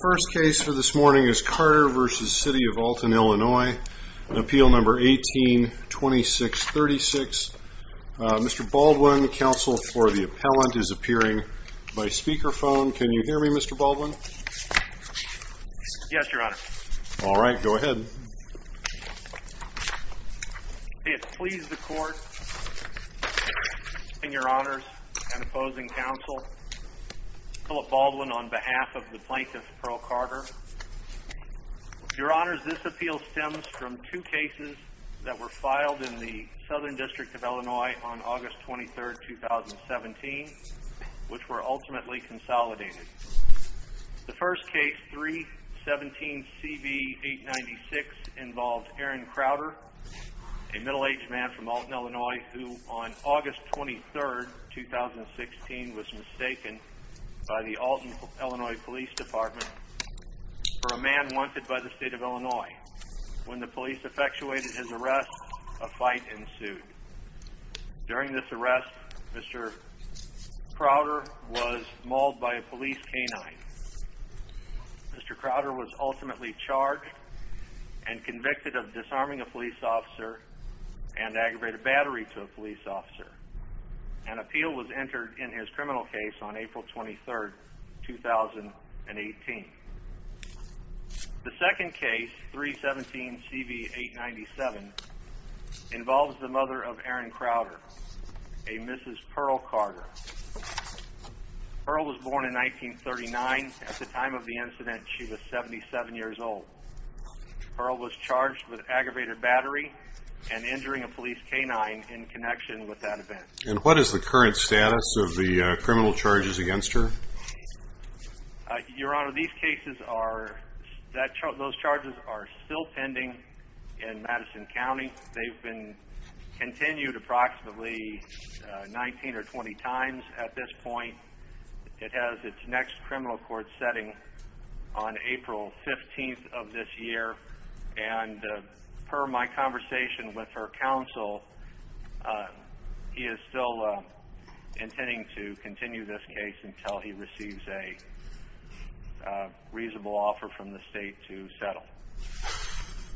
First case for this morning is Carter v. City of Alton, Illinois, Appeal No. 18-2636. Mr. Baldwin, counsel for the appellant, is appearing by speakerphone. Can you hear me, Mr. Baldwin? Yes, Your Honor. All right, go ahead. It pleases the court, and Your Honors, and opposing counsel, Philip Baldwin on behalf of the plaintiff, Pearl Carter. Your Honors, this appeal stems from two cases that were filed in the Southern District of Illinois on August 23, 2017, which were ultimately consolidated. The first case, 3-17-CV-896, involved Aaron Crowder, a middle-aged man from Alton, Illinois, who on August 23, 2016, was mistaken by the Alton, Illinois, Police Department for a man wanted by the State of Illinois. When the police effectuated his arrest, a fight ensued. During this arrest, Mr. Crowder was mauled by a police canine. Mr. Crowder was ultimately charged and convicted of disarming a police officer and aggravated battery to a police officer. An appeal was entered in his criminal case on April 23, 2018. The second case, 3-17-CV-897, involves the mother of Aaron Crowder, a Mrs. Pearl Carter. Pearl was born in 1939. At the time of the incident, she was 77 years old. Pearl was charged with aggravated battery and injuring a police canine in connection with that event. And what is the current status of the criminal charges against her? Your Honor, these cases are, those charges are still pending in Madison County. They've been continued approximately 19 or 20 times at this point. It has its next criminal court setting on April 15th of this year. And per my conversation with her counsel, he is still intending to continue this case until he receives a reasonable offer from the State to settle.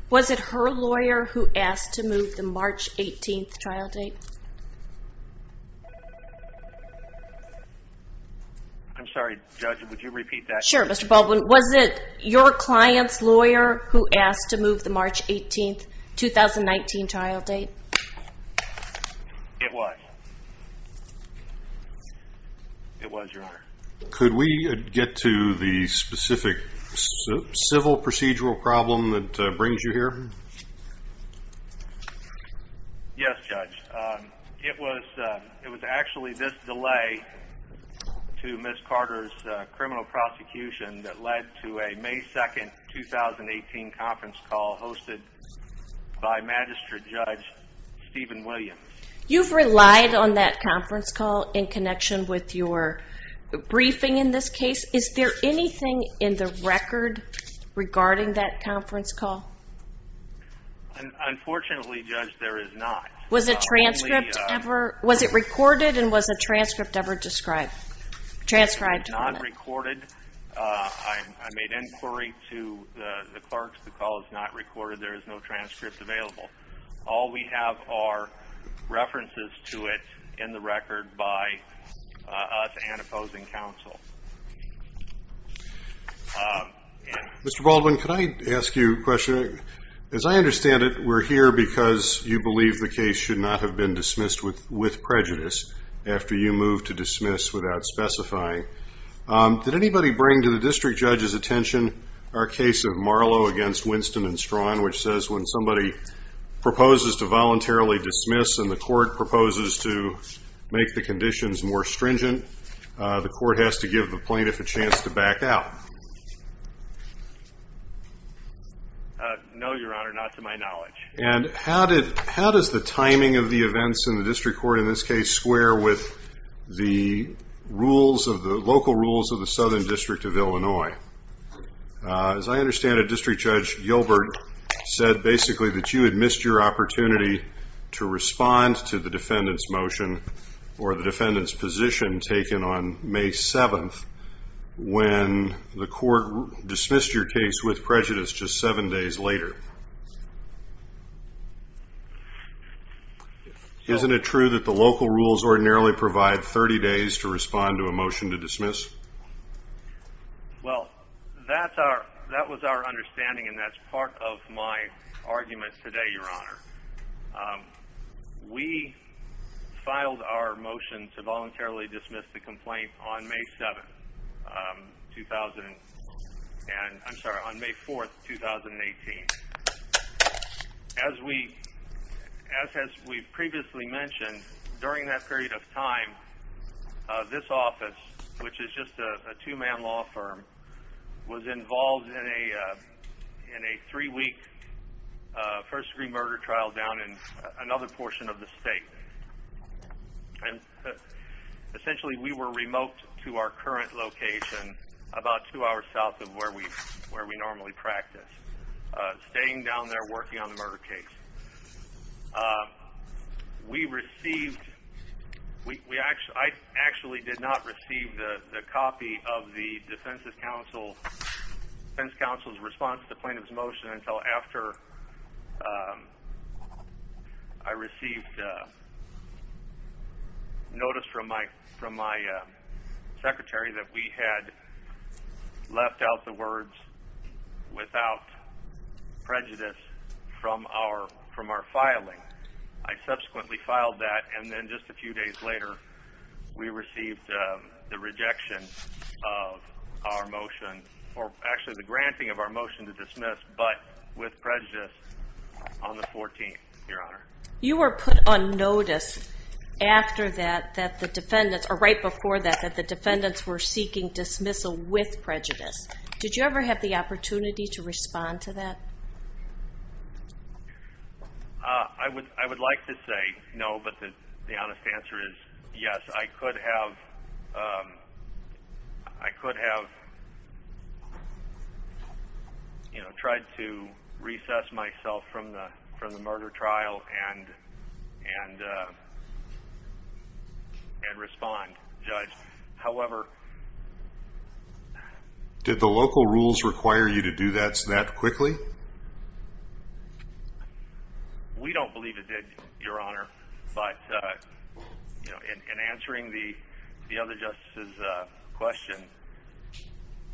Was it her lawyer who asked to move the March 18th trial date? I'm sorry, Judge, would you repeat that? Sure, Mr. Baldwin. Was it your client's lawyer who asked to move the March 18th, 2019 trial date? It was. It was, Your Honor. Could we get to the specific civil procedural problem that brings you here? Yes, Judge. It was actually this delay to Ms. Carter's criminal prosecution that led to a May 2nd, 2018 conference call hosted by Magistrate Judge Stephen Williams. You've relied on that conference call in connection with your briefing in this case. Is there anything in the record regarding that conference call? Unfortunately, Judge, there is not. Was it transcript ever? Was it recorded and was a transcript ever described? Transcribed. It was not recorded. I made inquiry to the clerks. The call is not recorded. There is no transcript available. All we have are references to it in the record by us and opposing counsel. Mr. Baldwin, could I ask you a question? As I understand it, we're here because you believe the case should not have been dismissed with prejudice after you moved to dismiss without specifying. Did anybody bring to the district judge's attention our case of Marlowe against Winston and Strawn, which says when somebody proposes to voluntarily dismiss and the court proposes to make the conditions more stringent, the court has to give the plaintiff a chance to back out? No, Your Honor, not to my knowledge. And how does the timing of the events in the district court in this case square with the local rules of the Southern District of Illinois? As I understand it, District Judge Gilbert said basically that you had missed your opportunity to respond to the defendant's motion or the defendant's position taken on May 7th when the court dismissed your case with prejudice just seven days later. Isn't it true that the local rules ordinarily provide 30 days to respond to a motion to dismiss? Well, that was our understanding, and that's part of my argument today, Your Honor. We filed our motion to voluntarily dismiss the complaint on May 4th, 2018. As we previously mentioned, during that period of time, this office, which is just a two-man law firm, was involved in a three-week first-degree murder trial down in another portion of the state. Essentially, we were remote to our current location about two hours south of where we normally practice, staying down there working on the murder case. I actually did not receive the copy of the defense counsel's response to the plaintiff's motion until after I received notice from my secretary that we had left out the words, without prejudice, from our filing. I subsequently filed that, and then just a few days later, we received the rejection of our motion, or actually the granting of our motion to dismiss, but with prejudice, on the 14th, Your Honor. You were put on notice after that that the defendants, or right before that, that the defendants were seeking dismissal with prejudice. Did you ever have the opportunity to respond to that? I would like to say no, but the honest answer is yes. I could have tried to recess myself from the murder trial and respond, Judge. Did the local rules require you to do that that quickly? We don't believe it did, Your Honor, but in answering the other justices' question,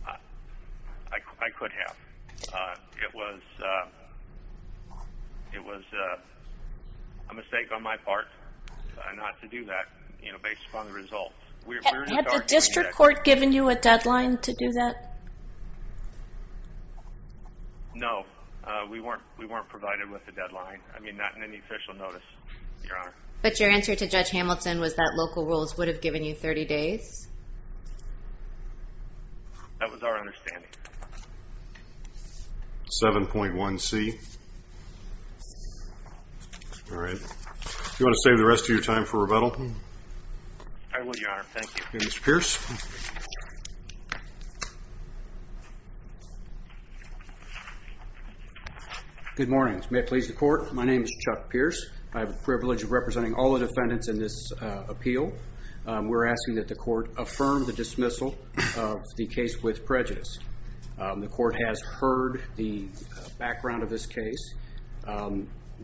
I could have. It was a mistake on my part not to do that, based upon the results. Had the district court given you a deadline to do that? No, we weren't provided with a deadline, I mean, not in any official notice, Your Honor. But your answer to Judge Hamilton was that local rules would have given you 30 days? That was our understanding. 7.1C. All right. Do you want to save the rest of your time for rebuttal? I will, Your Honor, thank you. Mr. Pierce? Good morning. May it please the court, my name is Chuck Pierce. I have the privilege of representing all the defendants in this appeal. We're asking that the court affirm the dismissal of the case with prejudice. The court has heard the background of this case.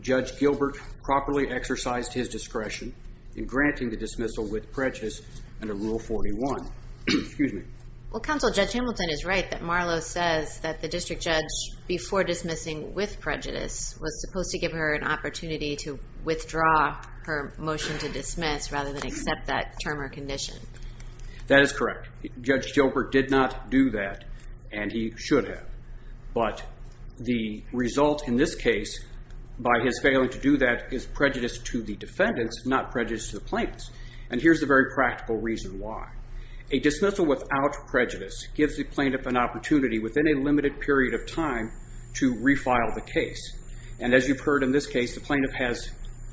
Judge Gilbert properly exercised his discretion in granting the dismissal with prejudice under Rule 41. Well, Counsel, Judge Hamilton is right that Marlowe says that the district judge, before dismissing with prejudice, was supposed to give her an opportunity to withdraw her motion to dismiss rather than accept that term or condition. That is correct. Judge Gilbert did not do that, and he should have. But the result in this case, by his failing to do that, is prejudice to the defendants, not prejudice to the plaintiffs. And here's the very practical reason why. A dismissal without prejudice gives the plaintiff an opportunity within a limited period of time to refile the case. And as you've heard in this case, the plaintiff has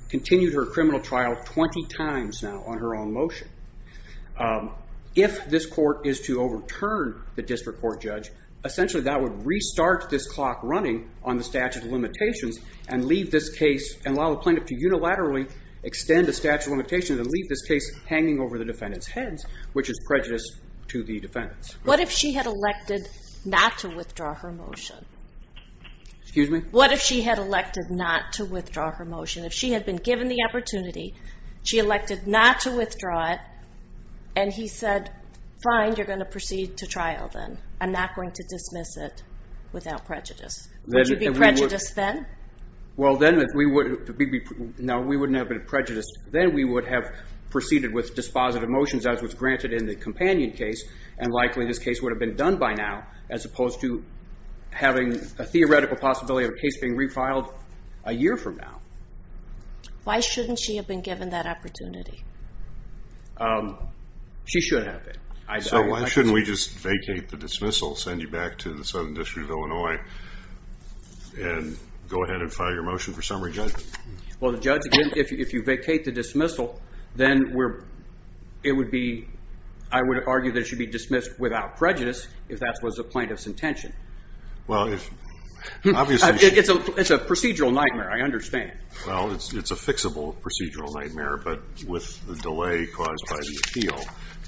continued her criminal trial 20 times now on her own motion. If this court is to overturn the district court judge, essentially that would restart this clock running on the statute of limitations and leave this case and allow the plaintiff to unilaterally extend the statute of limitations and leave this case hanging over the defendants' heads, which is prejudice to the defendants. What if she had elected not to withdraw her motion? Excuse me? What if she had elected not to withdraw her motion? If she had been given the opportunity, she elected not to withdraw it, and he said, fine, you're going to proceed to trial then. I'm not going to dismiss it without prejudice. Would you be prejudiced then? Well, then we wouldn't have been prejudiced. Then we would have proceeded with dispositive motions as was granted in the companion case, and likely this case would have been done by now as opposed to having a theoretical possibility of a case being refiled a year from now. Why shouldn't she have been given that opportunity? She should have been. So why shouldn't we just vacate the dismissal, send you back to the Southern District of Illinois, and go ahead and file your motion for summary judgment? Well, the judge, again, if you vacate the dismissal, then it would be, I would argue that it should be dismissed without prejudice if that was the plaintiff's intention. It's a procedural nightmare, I understand. Well, it's a fixable procedural nightmare, but with the delay caused by the appeal,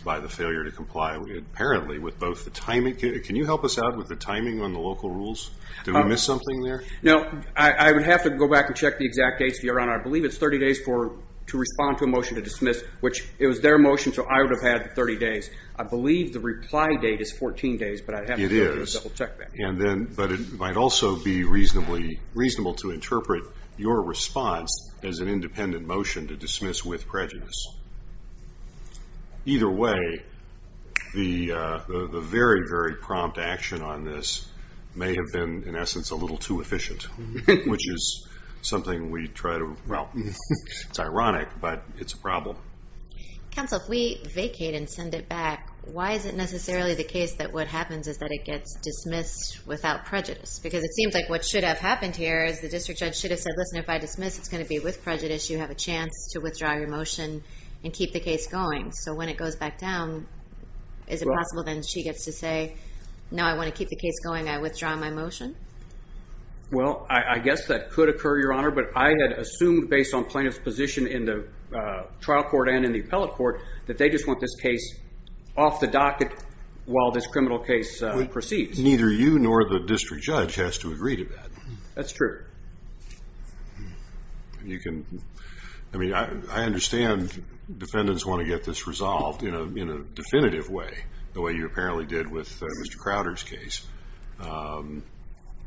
by the failure to comply, apparently with both the timing, can you help us out with the timing on the local rules? Did we miss something there? No, I would have to go back and check the exact dates, Your Honor. I believe it's 30 days to respond to a motion to dismiss, which it was their motion, so I would have had 30 days. I believe the reply date is 14 days, but I'd have to double-check that. It is, but it might also be reasonable to interpret your response as an independent motion to dismiss with prejudice. Either way, the very, very prompt action on this may have been, in essence, a little too efficient, which is something we try to, well, it's ironic, but it's a problem. Counsel, if we vacate and send it back, why is it necessarily the case that what happens is that it gets dismissed without prejudice? Because it seems like what should have happened here is the district judge should have said, listen, if I dismiss, it's going to be with prejudice, you have a chance to withdraw your motion and keep the case going. So when it goes back down, is it possible then she gets to say, no, I want to keep the case going, I withdraw my motion? Well, I guess that could occur, Your Honor, but I had assumed based on plaintiff's position in the trial court and in the appellate court that they just want this case off the docket while this criminal case proceeds. Neither you nor the district judge has to agree to that. That's true. I understand defendants want to get this resolved in a definitive way, the way you apparently did with Mr. Crowder's case.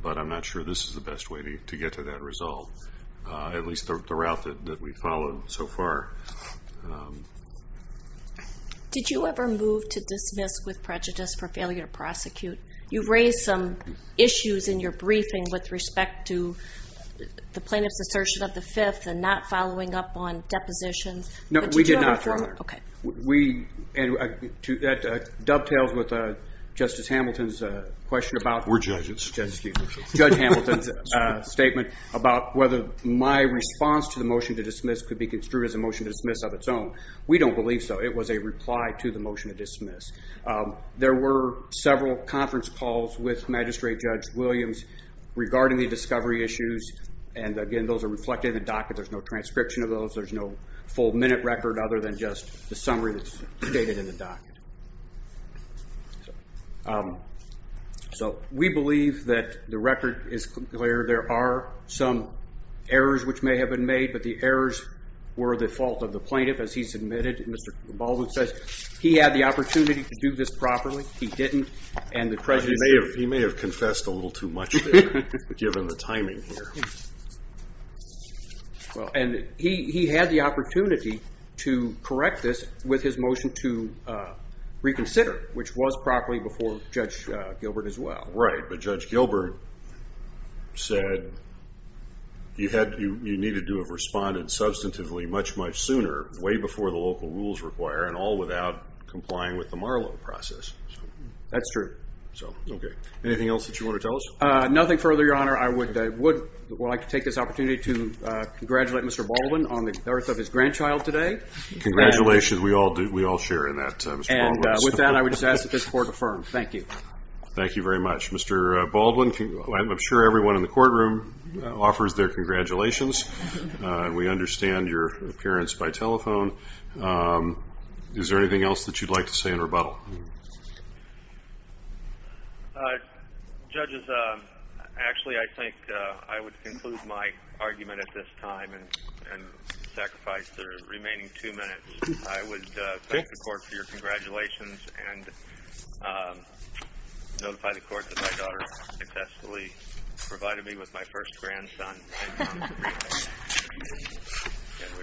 But I'm not sure this is the best way to get to that result, at least the route that we've followed so far. Did you ever move to dismiss with prejudice for failure to prosecute? You raised some issues in your briefing with respect to the plaintiff's assertion of the fifth and not following up on depositions. No, we did not, Your Honor. That dovetails with Justice Hamilton's question about- We're judges. Judge Hamilton's statement about whether my response to the motion to dismiss could be construed as a motion to dismiss of its own. We don't believe so. It was a reply to the motion to dismiss. There were several conference calls with Magistrate Judge Williams regarding the discovery issues, and again, those are reflected in the docket. There's no transcription of those. There's no full minute record other than just the summary that's stated in the docket. So we believe that the record is clear. There are some errors which may have been made, but the errors were the fault of the plaintiff, as he submitted. Mr. Baldwin says he had the opportunity to do this properly. He didn't, and the prejudice- He may have confessed a little too much there, given the timing here. And he had the opportunity to correct this with his motion to reconsider, which was properly before Judge Gilbert as well. Right, but Judge Gilbert said you needed to have responded substantively much, much sooner, way before the local rules require, and all without complying with the Marlowe process. That's true. Anything else that you want to tell us? Nothing further, Your Honor. I would like to take this opportunity to congratulate Mr. Baldwin on the birth of his grandchild today. Congratulations. We all share in that, Mr. Baldwin. And with that, I would just ask that this court affirm. Thank you. Thank you very much. Mr. Baldwin, I'm sure everyone in the courtroom offers their congratulations, and we understand your appearance by telephone. Is there anything else that you'd like to say in rebuttal? Judges, actually I think I would conclude my argument at this time and sacrifice the remaining two minutes. I would thank the court for your congratulations and notify the court that my daughter successfully provided me with my first grandson.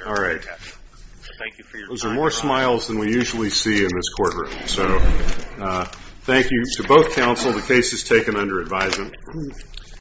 All right. Those are more smiles than we usually see in this courtroom. So thank you to both counsel. The case is taken under advisement.